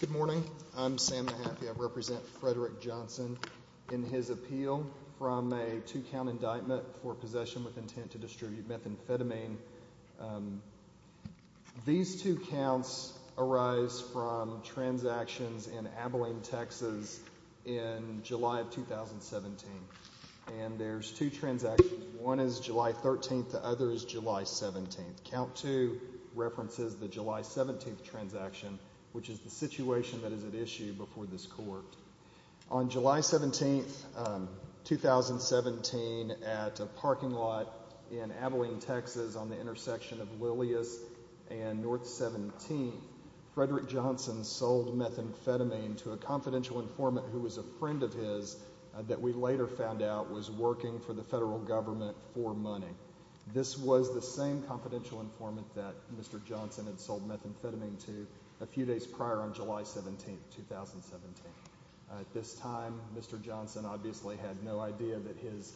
Good morning. I'm Sam Mahaffey. I represent Fredrick Johnson in his appeal from a two-count indictment for possession with intent to distribute methamphetamine. These two counts arise from July 13th to others July 17th. Count 2 references the July 17th transaction, which is the situation that is at issue before this court. On July 17th, 2017, at a parking lot in Abilene, Texas on the intersection of Lillias and North 17th, Fredrick Johnson sold methamphetamine to a confidential informant who was a friend of his that we later found out was working for the federal government for money. This was the same confidential informant that Mr. Johnson had sold methamphetamine to a few days prior on July 17th, 2017. At this time, Mr. Johnson obviously had no idea that his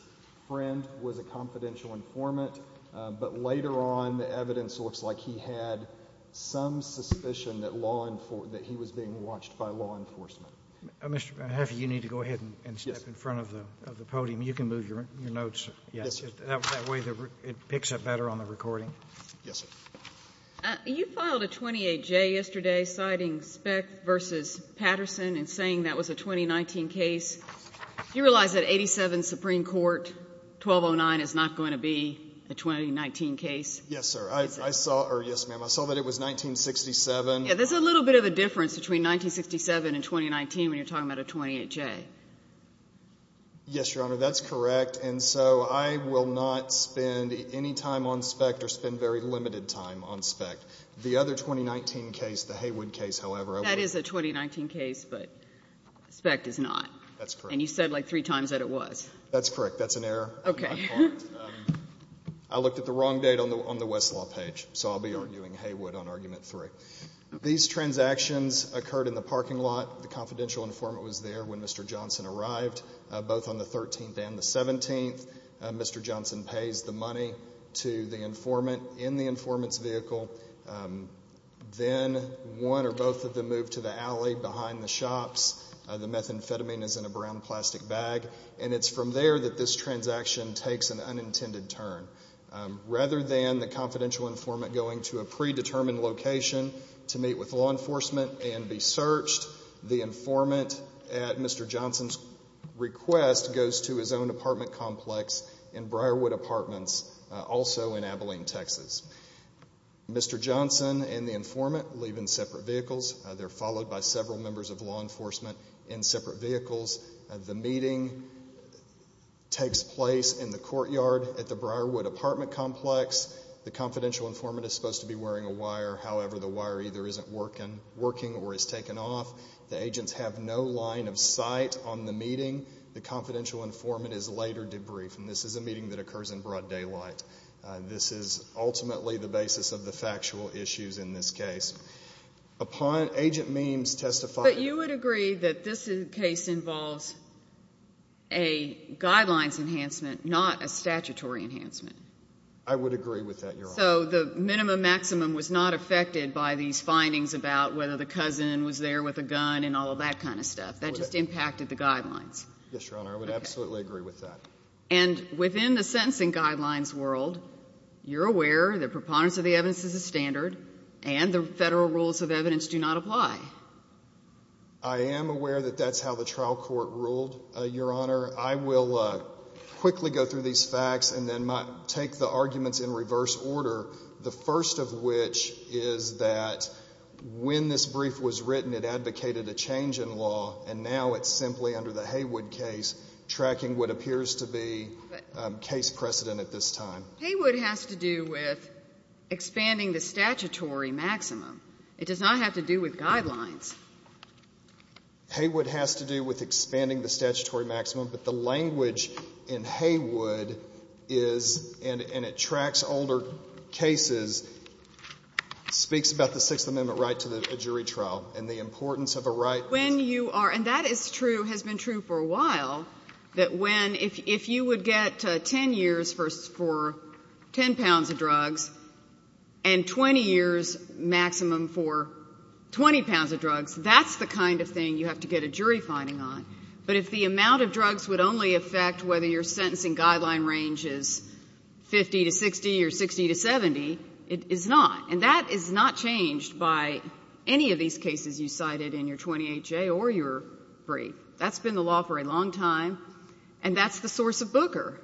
friend was a confidential informant, but later on the evidence looks like he had some suspicion that he was being watched by law enforcement. Mr. Mahaffey, you need to go ahead and step in front of the podium. You can move your notes. Yes. That way it picks up better on the recording. Yes, sir. You filed a 28J yesterday citing Speck v. Patterson and saying that was a 2019 case. Do you realize that 87 Supreme Court 1209 is not going to be a 2019 case? Yes, sir. I saw or yes, ma'am. I saw that it was 1967. Yes, there's a little bit of a difference between 1967 and 2019 when you're talking about a 28J. Yes, Your Honor, that's correct. And so I will not spend any time on Speck or spend very limited time on Speck. The other 2019 case, the Haywood case, however, I would have to go back to that. That is a 2019 case, but Speck does not. That's correct. And you said like three times that it was. That's correct. That's an error. Okay. I looked at the wrong date on the Westlaw page, so I'll be arguing Haywood on argument three. These transactions occurred in the parking lot. The confidential informant was there when Mr. Johnson arrived, both on the 13th and the 17th. Mr. Johnson pays the money to the informant in the informant's vehicle. Then one or both of them moved to the alley behind the shops. The methamphetamine is in a brown plastic bag. And it's from there that this transaction takes an unintended turn. Rather than the confidential informant going to a predetermined location to meet with law enforcement and be searched, the informant, at Mr. Johnson's request, goes to his own apartment complex in Briarwood Apartments, also in Abilene, Texas. Mr. Johnson and the informant leave in separate vehicles. They're followed by several members of law enforcement in separate vehicles. The meeting takes place in the courtyard at the Briarwood Apartment complex. The confidential informant is supposed to be wearing a wire. However, the wire either isn't working or is taken off. The agents have no line of sight on the meeting. The confidential informant is later debriefed. And this is a meeting that occurs in broad daylight. This is ultimately the basis of the factual issues in this case. Upon Agent Meems' testifying ---- But you would agree that this case involves a guidelines enhancement, not a statutory enhancement? I would agree with that, Your Honor. So the minimum maximum was not affected by these findings about whether the cousin was there with a gun and all of that kind of stuff? That just impacted the guidelines? Yes, Your Honor. I would absolutely agree with that. And within the sentencing guidelines world, you're aware the preponderance of the evidence is a standard, and the Federal rules of evidence do not apply. I am aware that that's how the trial court ruled, Your Honor. I will quickly go through these facts and then take the arguments in reverse order, the first of which is that when this brief was written, it advocated a change in law, and now it's simply under the Haywood case tracking what appears to be case precedent at this time. Haywood has to do with expanding the statutory maximum. It does not have to do with guidelines. Haywood has to do with expanding the statutory maximum, but the language in Haywood is, and it tracks older cases, speaks about the Sixth Amendment right to a jury trial and the importance of a right. When you are ---- and that is true, has been true for a while, that when ---- if you would get 10 years for 10 pounds of drugs and 20 years maximum for 20 pounds of drugs, that's the kind of thing you have to get a jury finding on. But if the amount of drugs would only affect whether your sentencing guideline range is 50 to 60 or 60 to 70, it is not. And that is not changed by any of these cases you cited in your 28J or your brief. That's been the law for a long time, and that's the source of Booker.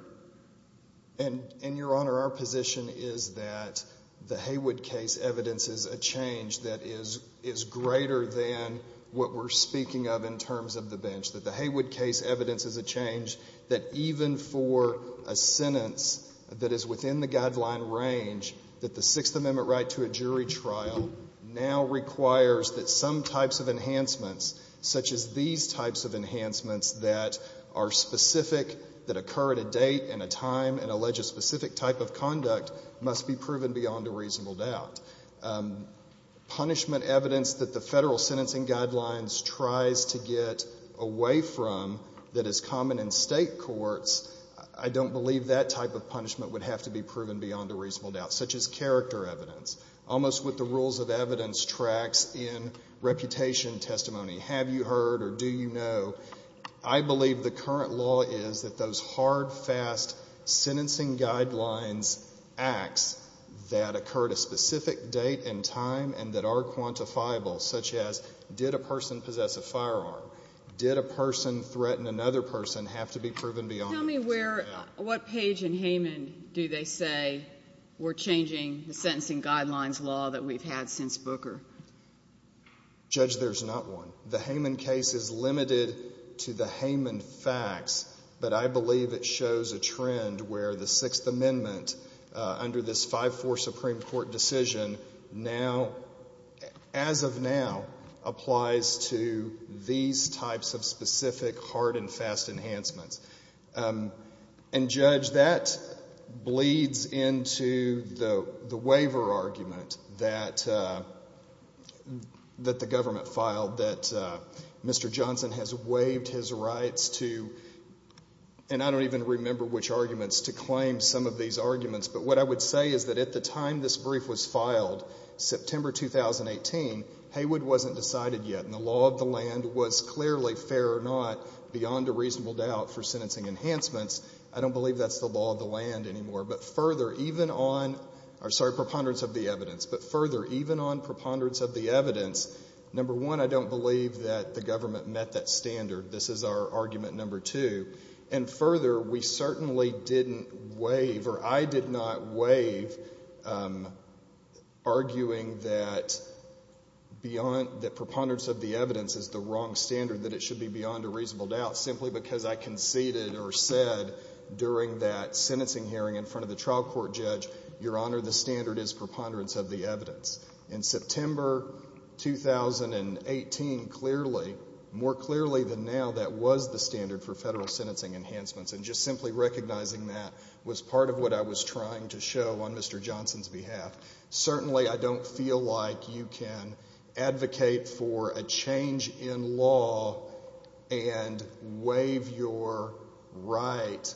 And, Your Honor, our position is that the Haywood case evidence is a change that is greater than what we're speaking of in terms of the bench. That the Haywood case evidence is a change that even for a sentence that is within the guideline range, that the Sixth Amendment right to a jury trial now requires that some types of enhancements, such as these types of enhancements that are specific, that occur at a date and a time and allege a specific type of conduct, must be proven beyond a reasonable doubt. Punishment evidence that the Federal sentencing guidelines tries to get away from that is common in State courts, I don't believe that type of punishment would have to be proven beyond a reasonable doubt, such as character evidence. Almost what the rules of evidence tracks in reputation testimony. Have you heard or do you know? I believe the current law is that those hard, fast sentencing guidelines acts that occur at a specific date and time and that are quantifiable, such as did a person possess a firearm? Did a person threaten another person have to be proven beyond a reasonable doubt? Tell me where, what page in Hayman do they say we're changing the sentencing guidelines law that we've had since Booker? Judge there's not one. The Hayman case is limited to the Hayman facts, but I believe it shows a trend where the Sixth Amendment under this 5-4 Supreme Court decision now, as of now, applies to these types of specific hard and fast enhancements. And Judge, that bleeds into the waiver argument that the government filed that Mr. Johnson has waived his rights to, and I don't even remember which arguments, to claim some of these arguments, but what I would say is that at the time this brief was clearly fair or not, beyond a reasonable doubt for sentencing enhancements, I don't believe that's the law of the land anymore. But further, even on, I'm sorry, preponderance of the evidence, but further, even on preponderance of the evidence, number one, I don't believe that the government met that standard. This is our argument number two. And further, we certainly didn't waive, or I did not waive, arguing that preponderance of the evidence is the wrong standard, that it should be beyond a reasonable doubt, simply because I conceded or said during that sentencing hearing in front of the trial court, Judge, Your Honor, the standard is preponderance of the evidence. In September 2018, clearly, more clearly than now, that was the standard for federal sentencing enhancements, and just simply recognizing that was part of what I was trying to show on Mr. Johnson's behalf. Certainly, I don't feel like you can advocate for a change in law and waive your right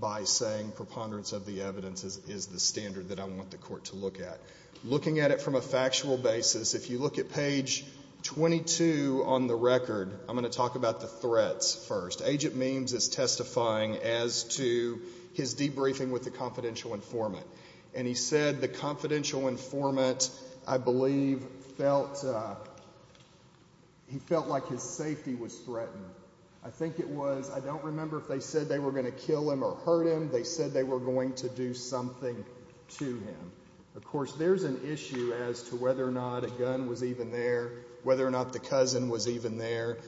by saying preponderance of the evidence is the standard that I want the court to look at. Looking at it from a factual basis, if you look at page 22 on the record, I'm going to talk about the threats first. Agent Meems is testifying as to his debriefing with the confidential informant, and he said the confidential informant, I believe, felt, he felt like his safety was threatened. I think it was, I don't remember if they said they were going to kill him or hurt him. They said they were going to do something to him. Of course, there's an issue as to whether or not a gun was even there, whether or not the cousin was even there,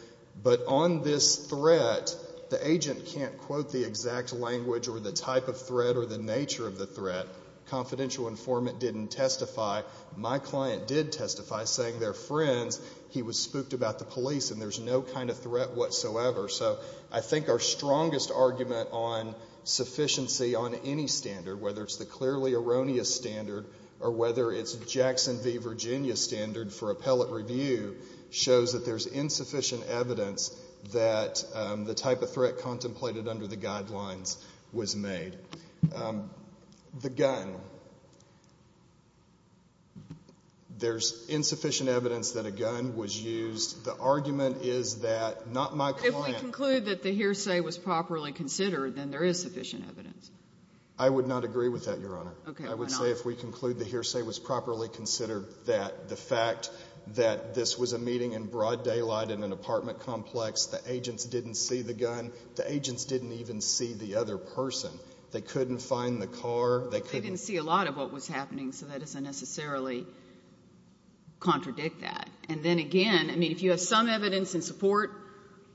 but on this threat, the agent can't quote the exact language or the type of threat or the nature of the threat. Confidential informant didn't testify. My client did testify, saying they're friends. He was spooked about the police, and there's no kind of threat whatsoever. So I think our strongest argument on sufficiency on any standard, whether it's the clearly erroneous standard or whether it's Jackson v. Virginia standard for appellate review, shows that there's insufficient evidence that the type of threat contemplated under the gun was made. The gun, there's insufficient evidence that a gun was used. The argument is that, not my client. But if we conclude that the hearsay was properly considered, then there is sufficient evidence. I would not agree with that, Your Honor. Okay. I would say if we conclude the hearsay was properly considered, that the fact that this was a meeting in broad daylight in an apartment complex, the agents didn't see the gun. The agents didn't even see the other person. They couldn't find the car. They couldn't see a lot of what was happening, so that doesn't necessarily contradict that. And then again, I mean, if you have some evidence in support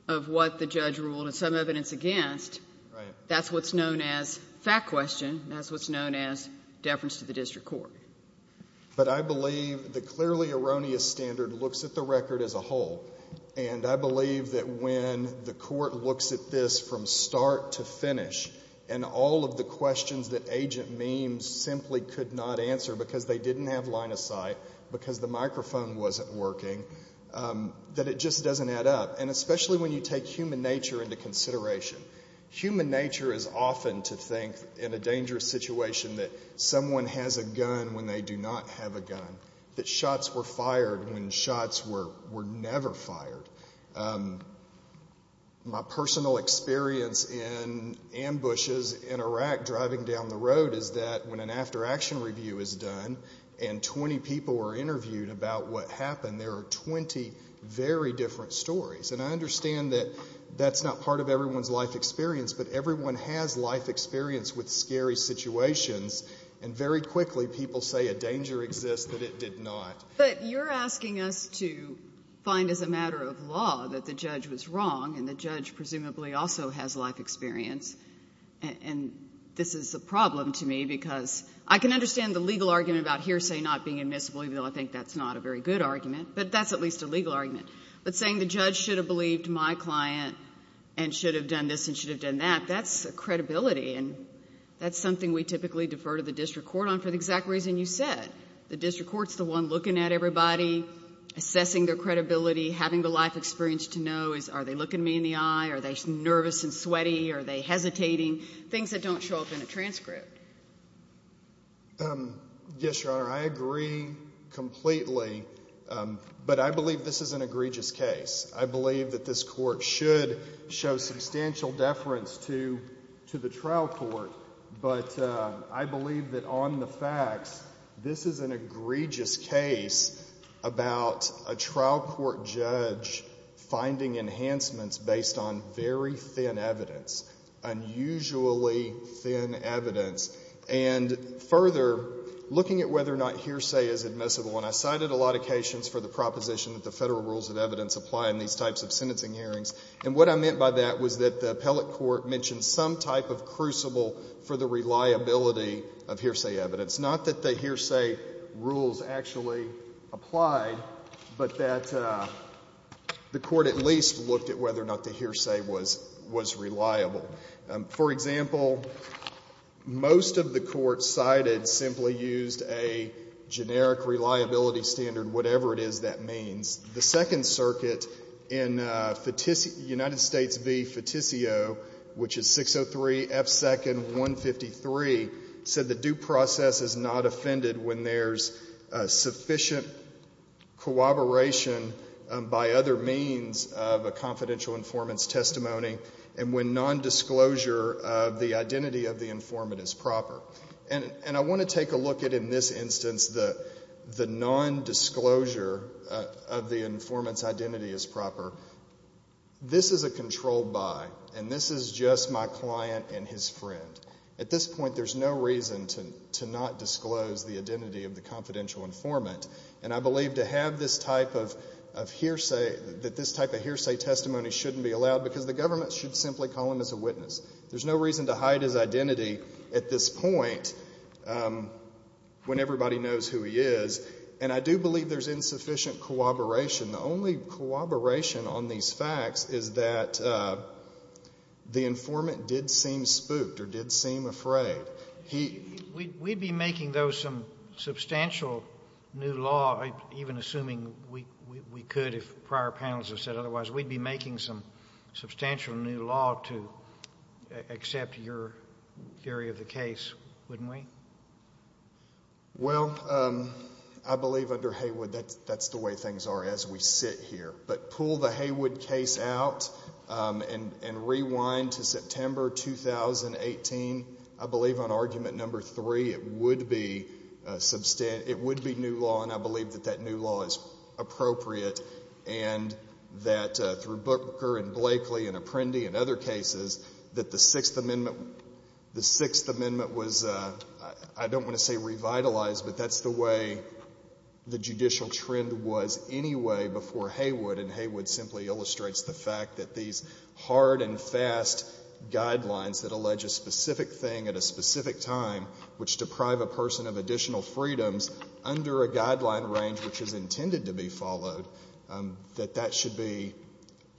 of what the judge ruled and some evidence against, that's what's known as fact question, that's what's known as deference to the district court. But I believe the clearly erroneous standard looks at the record as a whole. And I believe that when the court looks at this from start to finish, and all of the questions that agent Meems simply could not answer because they didn't have line of sight, because the microphone wasn't working, that it just doesn't add up. And especially when you take human nature into consideration. Human nature is often to think in a dangerous situation that someone has a gun when they do not have a gun. That shots were fired when shots were never fired. My personal experience in ambushes in Iraq driving down the road is that when an after-action review is done and 20 people were interviewed about what happened, there are 20 very different stories. And I understand that that's not part of everyone's life experience, but everyone has life experience with scary situations. And very quickly, people say a danger exists that it did not. But you're asking us to find as a matter of law that the judge was wrong, and the judge presumably also has life experience. And this is a problem to me, because I can understand the legal argument about hearsay not being admissible, even though I think that's not a very good argument. But that's at least a legal argument. But saying the judge should have believed my client and should have done this and should have done that, that's a credibility. And that's something we typically defer to the district court on for the exact reason you said. The district court's the one looking at everybody, assessing their credibility, having the life experience to know, are they looking me in the eye, are they nervous and sweaty, are they hesitating, things that don't show up in a transcript. Yes, Your Honor, I agree completely. But I believe this is an egregious case. I believe that this Court should show substantial deference to the trial court. But I believe that on the facts, this is an egregious case about a trial court judge finding enhancements based on very thin evidence, unusually thin evidence. And further, looking at whether or not hearsay is admissible, and I cited a lot of these types of sentencing hearings, and what I meant by that was that the appellate court mentioned some type of crucible for the reliability of hearsay evidence. Not that the hearsay rules actually applied, but that the Court at least looked at whether or not the hearsay was reliable. For example, most of the courts cited simply used a generic reliability standard, whatever it is that means. The Second Circuit in United States v. Feticio, which is 603 F. 2nd 153, said the due process is not offended when there's sufficient cooperation by other means of a confidential informant's testimony and when nondisclosure of the identity of the informant is proper. And I want to take a look at, in this instance, the nondisclosure of the informant's identity as proper. This is a controlled buy, and this is just my client and his friend. At this point, there's no reason to not disclose the identity of the confidential informant. And I believe to have this type of hearsay, that this type of hearsay testimony shouldn't be allowed because the government should simply call him as a witness. There's no reason to hide his identity at this point when everybody knows who he is. And I do believe there's insufficient cooperation. The only cooperation on these facts is that the informant did seem spooked or did seem afraid. He — We'd be making, though, some substantial new law, even assuming we could if prior panels have said otherwise, we'd be making some substantial new law to accept your theory of the case, wouldn't we? Well, I believe under Haywood, that's the way things are as we sit here. But pull the Haywood case out and rewind to September 2018, I believe on argument number three, it would be new law, and I believe that that new law is appropriate. And that through Booker and Blakely and Apprendi and other cases, that the Sixth Amendment — the Sixth Amendment was, I don't want to say revitalized, but that's the way the judicial trend was anyway before Haywood. And Haywood simply illustrates the fact that these hard and fast guidelines that allege a specific thing at a specific time, which deprive a person of additional freedoms under a guideline range which is intended to be followed, that that should be —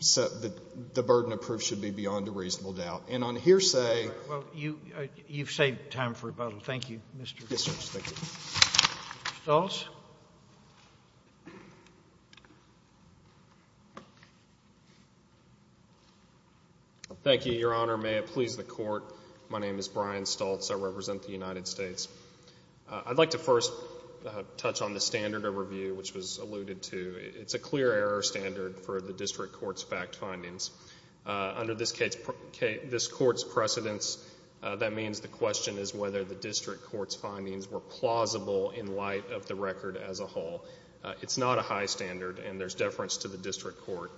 that the burden of proof should be beyond a reasonable doubt. And on hearsay — Well, you've saved time for rebuttal. Thank you, Mr. — Yes, Your Honor. Thank you. Mr. Stoltz. Thank you, Your Honor. May it please the Court, my name is Brian Stoltz. I represent the United States. I'd like to first touch on the standard overview, which was alluded to. It's a clear error standard for the district court's fact findings. Under this court's precedence, that means the question is whether the district court's findings were plausible in light of the record as a whole. It's not a high standard, and there's deference to the district court.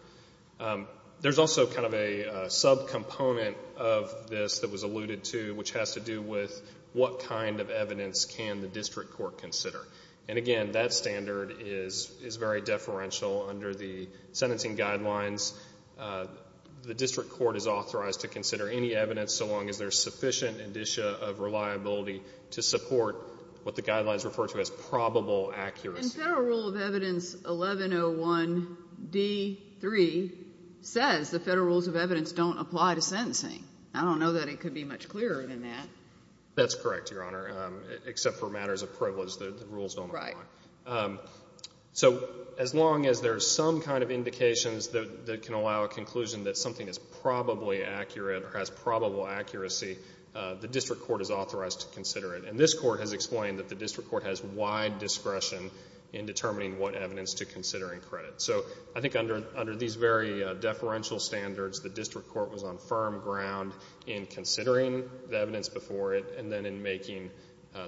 There's also kind of a subcomponent of this that was alluded to, which has to do with what kind of evidence can the district court consider. And again, that standard is very deferential under the sentencing guidelines. The district court is authorized to consider any evidence so long as there's sufficient indicia of reliability to support what the guidelines refer to as probable accuracy. And Federal Rule of Evidence 1101D3 says the Federal Rules of Evidence don't apply to sentencing. I don't know that it could be much clearer than that. That's correct, Your Honor, except for matters of privilege, the rules don't apply. So as long as there's some kind of indications that can allow a conclusion that something is probably accurate or has probable accuracy, the district court is authorized to consider it. And this court has explained that the district court has wide discretion in determining what evidence to consider in credit. So I think under these very deferential standards, the district court was on firm ground in considering the evidence before it and then in making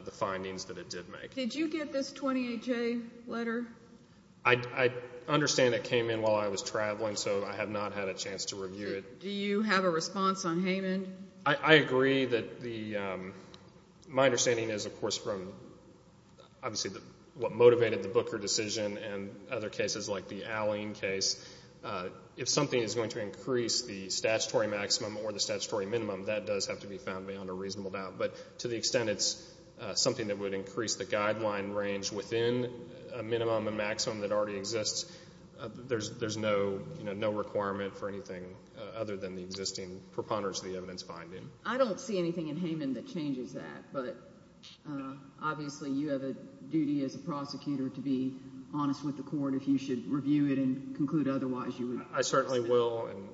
the findings that it did make. Did you get this 28-J letter? I understand it came in while I was traveling, so I have not had a chance to review it. Do you have a response on Haymond? I agree that the, my understanding is, of course, from obviously what motivated the Booker decision and other cases like the Alleyne case, if something is going to increase the guideline range within a minimum and maximum that already exists, there's no, you know, no requirement for anything other than the existing preponderance of the evidence finding. I don't see anything in Haymond that changes that, but obviously you have a duty as a prosecutor to be honest with the court if you should review it and conclude otherwise, you would I certainly will, and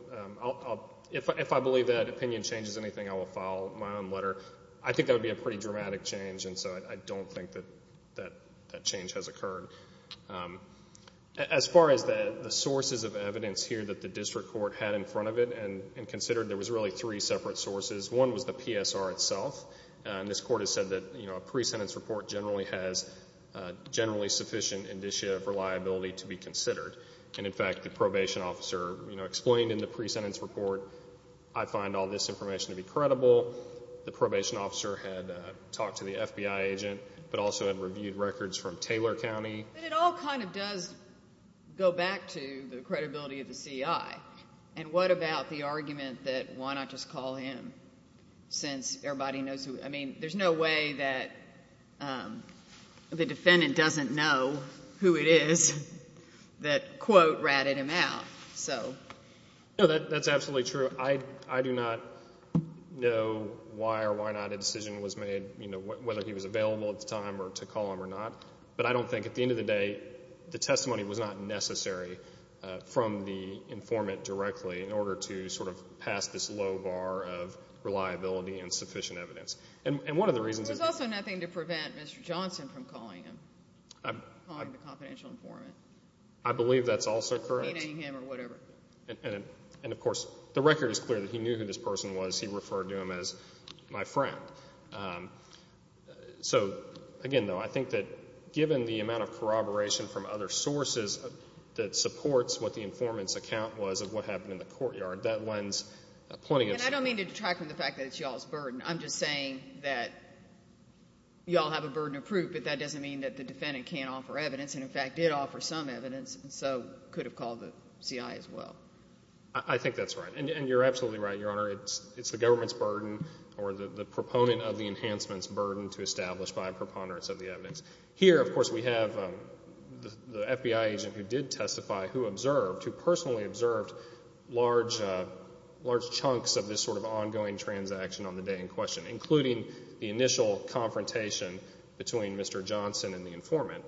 if I believe that opinion changes anything, I will file my own letter. I think that would be a pretty dramatic change, and so I don't think that change has occurred. As far as the sources of evidence here that the district court had in front of it and considered, there was really three separate sources. One was the PSR itself, and this court has said that, you know, a pre-sentence report generally has generally sufficient indicia of reliability to be considered, and in fact, the probation officer, you know, explained in the pre-sentence report, I find all this information to be credible. The probation officer had talked to the FBI agent, but also had reviewed records from Taylor County. But it all kind of does go back to the credibility of the CI, and what about the argument that why not just call him since everybody knows who, I mean, there's no way that the defendant doesn't know who it is that, quote, ratted him out, so. No, that's absolutely true. I do not know why or why not a decision was made, you know, whether he was available at the time or to call him or not, but I don't think, at the end of the day, the testimony was not necessary from the informant directly in order to sort of pass this low bar of reliability and sufficient evidence. And one of the reasons that There's also nothing to prevent Mr. Johnson from calling him, calling the confidential informant. I believe that's also correct. He named him or whatever. And of course, the record is clear that he knew who this person was. He referred to him as my friend. So again, though, I think that given the amount of corroboration from other sources that supports what the informant's account was of what happened in the courtyard, that lends plenty of And I don't mean to detract from the fact that it's y'all's burden. I'm just saying that y'all have a burden of proof, but that doesn't mean that the defendant can't offer evidence. And in fact, did offer some evidence, and so could have called the CI as well. I think that's right. And you're absolutely right, Your Honor. It's the government's burden or the proponent of the enhancement's burden to establish by a preponderance of the evidence. Here, of course, we have the FBI agent who did testify who observed, who personally observed large chunks of this sort of ongoing transaction on the day in question, including the initial confrontation between Mr. Johnson and the informant.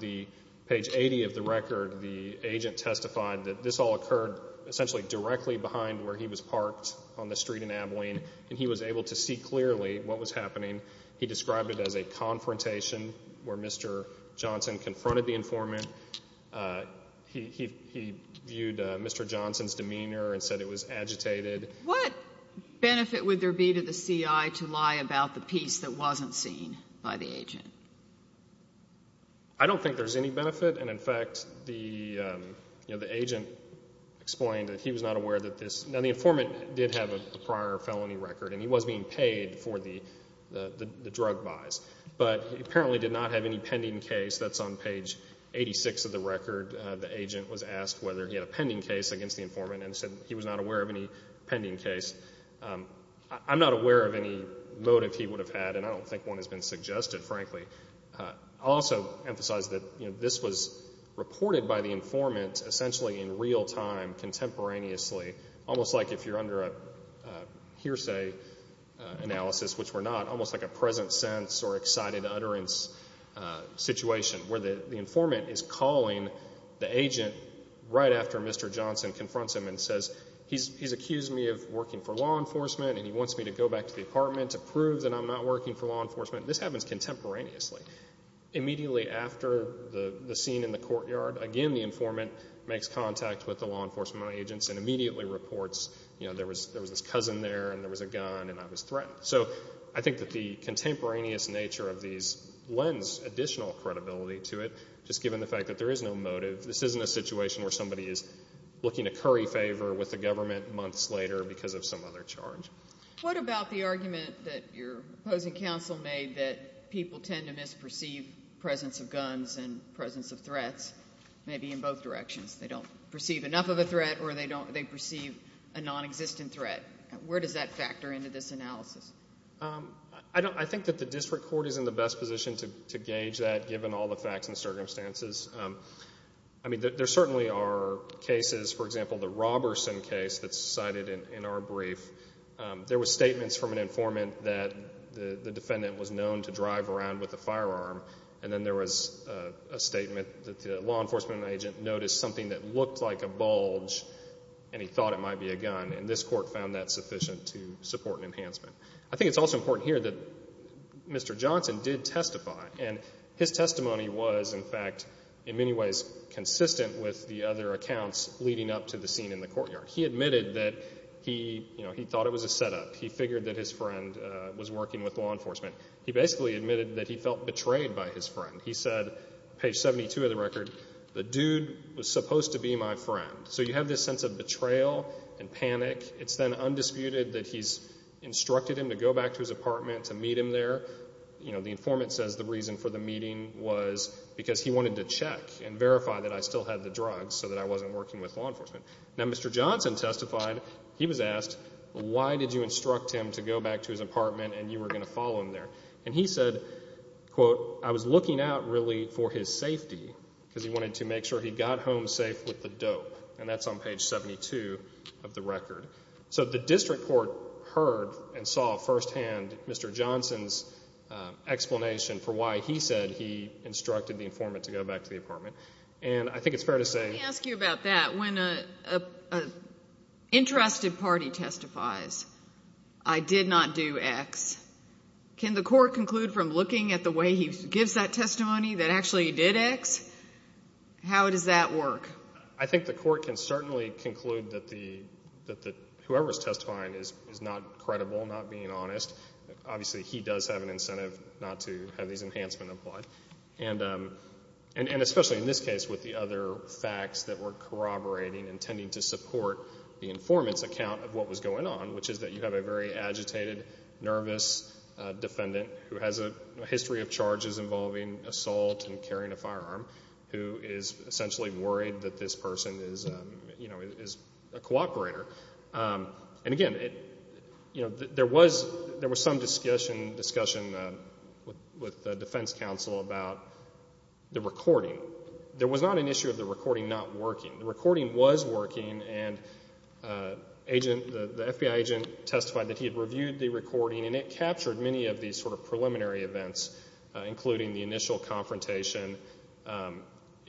The page 80 of the record, the agent testified that this all occurred essentially directly behind where he was parked on the street in Abilene, and he was able to see clearly what was happening. He described it as a confrontation where Mr. Johnson confronted the informant. He viewed Mr. Johnson's demeanor and said it was agitated. What benefit would there be to the CI to lie about the piece that wasn't seen by the agent? I don't think there's any benefit, and in fact, the agent explained that he was not aware that this... Now, the informant did have a prior felony record, and he was being paid for the drug buys. But he apparently did not have any pending case. That's on page 86 of the record. The agent was asked whether he had a pending case against the informant, and said he was not aware of any pending case. I'm not aware of any motive he would have had, and I don't think one has been suggested, frankly. I'll also emphasize that this was reported by the informant essentially in real time contemporaneously, almost like if you're under a hearsay analysis, which we're not, almost like a present sense or excited utterance situation, where the informant is calling the agent right after Mr. Johnson confronts him and says, he's accused me of working for law enforcement, and he wants me to go back to the apartment to prove that I'm not working for law enforcement. This happens contemporaneously. Immediately after the scene in the courtyard, again, the informant makes contact with the law enforcement agents and immediately reports, you know, there was this cousin there, and there was a gun, and I was threatened. So I think that the contemporaneous nature of these lends additional credibility to it, just given the fact that there is no motive. This isn't a situation where somebody is looking to curry favor with the government months later because of some other charge. What about the argument that your opposing counsel made that people tend to misperceive presence of guns and presence of threats, maybe in both directions? They don't perceive enough of a threat, or they perceive a nonexistent threat. Where does that factor into this analysis? I think that the district court is in the best position to gauge that, given all the facts and circumstances. I mean, there certainly are cases, for example, the Roberson case that's cited in our brief. There were statements from an informant that the defendant was known to drive around with a firearm, and then there was a statement that the law enforcement agent noticed something that looked like a bulge, and he thought it might be a gun. And this court found that sufficient to support an enhancement. I think it's also important here that Mr. Johnson did testify. And his testimony was, in fact, in many ways consistent with the other accounts leading up to the scene in the courtyard. He admitted that he, you know, he thought it was a setup. He figured that his friend was working with law enforcement. He basically admitted that he felt betrayed by his friend. He said, page 72 of the record, the dude was supposed to be my friend. So you have this sense of betrayal and panic. It's then undisputed that he's instructed him to go back to his apartment to meet him there. You know, the informant says the reason for the meeting was because he wanted to check and verify that I still had the drugs so that I wasn't working with law enforcement. Now, Mr. Johnson testified, he was asked, why did you instruct him to go back to his apartment and you were going to follow him there? And he said, quote, I was looking out, really, for his safety, because he wanted to make sure he got home safe with the dope. And that's on page 72 of the record. So the district court heard and saw firsthand Mr. Johnson's explanation for why he said he instructed the informant to go back to the apartment. And I think it's fair to say. Let me ask you about that. When an interested party testifies, I did not do X, can the court conclude from looking at the way he gives that testimony that actually he did X? How does that work? I think the court can certainly conclude that whoever is testifying is not credible, not being honest. Obviously, he does have an incentive not to have these enhancements applied. And especially in this case with the other facts that were corroborating and tending to support the informant's account of what was going on, which is that you have a very agitated, nervous defendant who has a history of charges involving assault and carrying a firearm, who is essentially worried that this person is, you know, is a cooperator. And again, you know, there was some discussion with the defense counsel about the recording. There was not an issue of the recording not working. The recording was working and the FBI agent testified that he had reviewed the recording and it captured many of these sort of preliminary events, including the initial confrontation.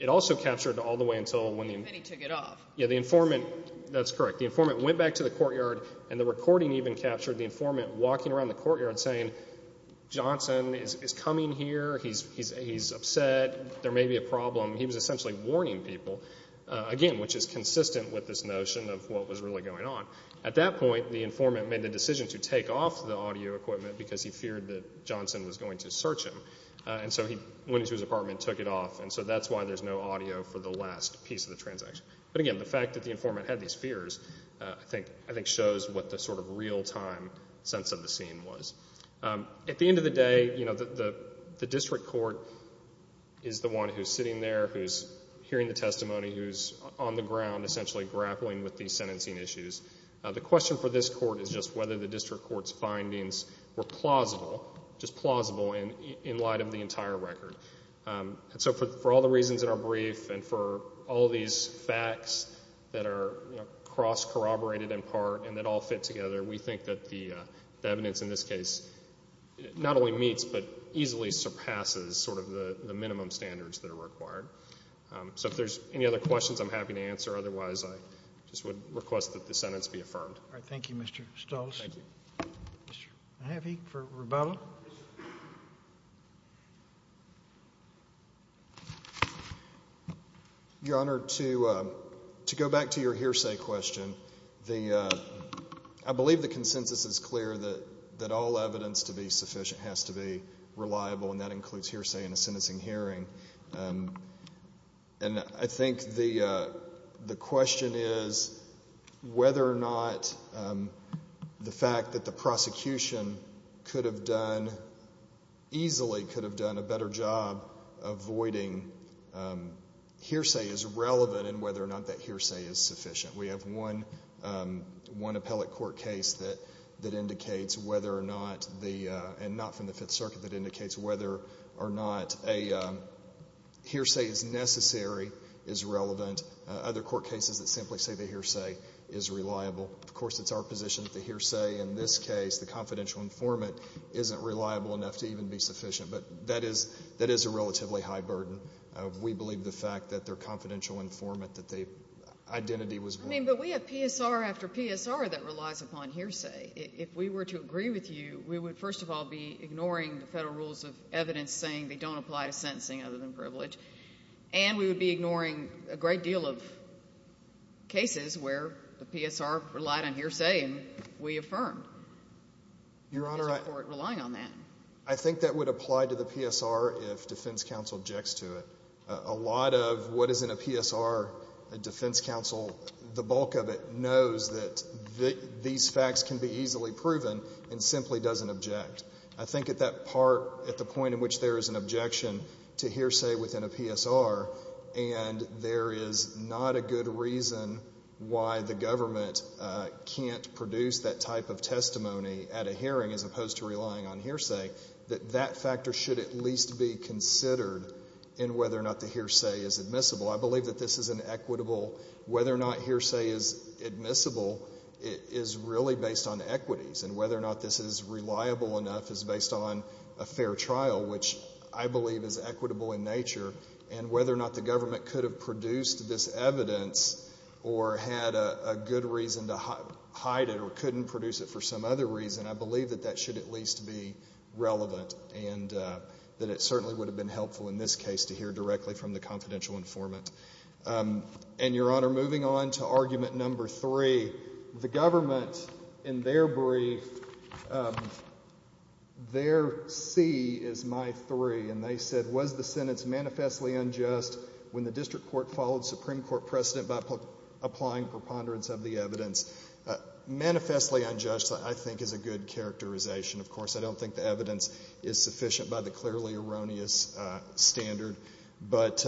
It also captured all the way until when the informant, that's correct, the informant went back to the courtyard and the recording even captured the informant walking around the courtyard saying, Johnson is coming here, he's upset, there may be a problem. He was essentially warning people, again, which is consistent with this notion of what was really going on. At that point, the informant made the decision to take off the audio equipment because he feared that Johnson was going to search him. And so he went into his apartment and took it off. And so that's why there's no audio for the last piece of the transaction. But again, the fact that the informant had these fears, I think, shows what the sort of real-time sense of the scene was. At the end of the day, you know, the district court is the one who's sitting there, who's on the ground, essentially grappling with these sentencing issues. The question for this court is just whether the district court's findings were plausible, just plausible in light of the entire record. So for all the reasons in our brief and for all these facts that are cross-corroborated in part and that all fit together, we think that the evidence in this case not only meets but easily surpasses sort of the minimum standards that are required. So if there's any other questions, I'm happy to answer, otherwise I just would request that the sentence be affirmed. All right. Thank you, Mr. Stoltz. Thank you. Mr. Mahaffey for rebuttal. Your Honor, to go back to your hearsay question, I believe the consensus is clear that all evidence to be sufficient has to be reliable, and that includes hearsay in a sentencing hearing. And I think the question is whether or not the fact that the prosecution could have done, easily could have done a better job avoiding hearsay is relevant and whether or not that hearsay is sufficient. We have one appellate court case that indicates whether or not the, and not from the Fifth Circuit, that indicates whether or not a hearsay is necessary is relevant. Other court cases that simply say the hearsay is reliable. Of course, it's our position that the hearsay in this case, the confidential informant, isn't reliable enough to even be sufficient, but that is, that is a relatively high burden. We believe the fact that their confidential informant, that they, identity was void. I mean, but we have PSR after PSR that relies upon hearsay. If we were to agree with you, we would, first of all, be ignoring the Federal rules of evidence saying they don't apply to sentencing other than privilege, and we would be ignoring a great deal of cases where the PSR relied on hearsay and we affirmed. Your Honor, I think that would apply to the PSR if defense counsel objects to it. A lot of what is in a PSR, a defense counsel, the bulk of it knows that these facts can be easily proven and simply doesn't object. I think at that part, at the point in which there is an objection to hearsay within a PSR and there is not a good reason why the government can't produce that type of testimony at a hearing as opposed to relying on hearsay, that that factor should at least be considered in whether or not the hearsay is admissible. I believe that this is an equitable, whether or not hearsay is admissible is really based on equities and whether or not this is reliable enough is based on a fair trial, which I believe is equitable in nature, and whether or not the government could have produced this evidence or had a good reason to hide it or couldn't produce it for some other reason, I believe that that should at least be relevant and that it certainly would have been helpful in this case to hear directly from the confidential informant. And Your Honor, moving on to argument number three, the government in their brief, their C is my three, and they said, was the sentence manifestly unjust when the district court followed Supreme Court precedent by applying preponderance of the evidence? Manifestly unjust, I think, is a good characterization. Of course, I don't think the evidence is sufficient by the clearly erroneous standard, but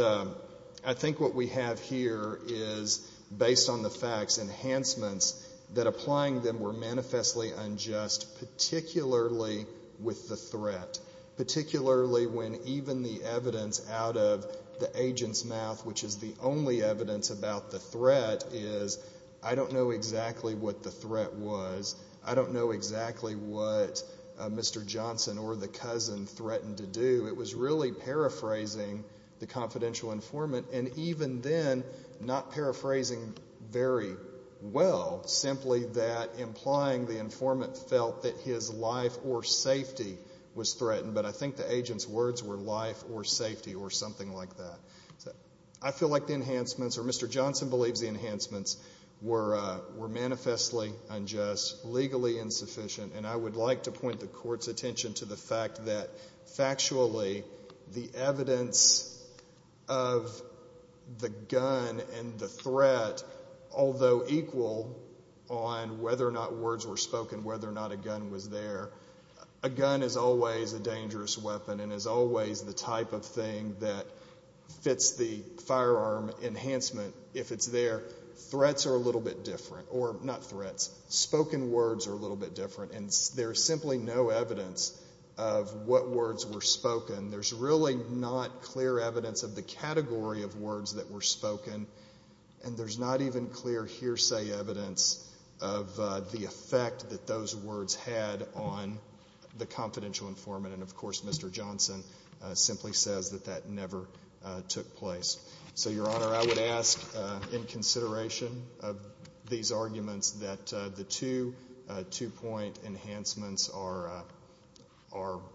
I think what we have here is, based on the facts, enhancements that applying them were manifestly unjust, particularly with the threat, particularly when even the evidence out of the agent's mouth, which is the only evidence about the threat, is I don't know exactly what the threat was. I don't know exactly what Mr. Johnson or the cousin threatened to do. It was really paraphrasing the confidential informant, and even then, not paraphrasing very well, simply that implying the informant felt that his life or safety was threatened, but I think the agent's words were life or safety or something like that. I feel like the enhancements, or Mr. Johnson believes the enhancements, were manifestly unjust, legally insufficient, and I would like to point the court's attention to the fact that, factually, the evidence of the gun and the threat, although equal on whether or not words were spoken, whether or not a gun was there, a gun is always a dangerous weapon and is always the type of thing that fits the firearm enhancement if it's there. Threats are a little bit different, or not threats, spoken words are a little bit different, and there's simply no evidence of what words were spoken. There's really not clear evidence of the category of words that were spoken, and there's not even clear hearsay evidence of the effect that those words had on the confidential informant, and, of course, Mr. Johnson simply says that that never took place. So, Your Honor, I would ask, in consideration of these arguments, that the two two-point enhancements are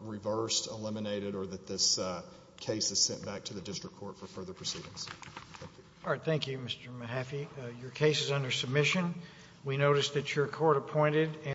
reversed, eliminated, or that this case is sent back to the district court for further proceedings. Thank you. All right. Thank you, Mr. Mahaffey. Your case is under submission. We notice that your court appointed.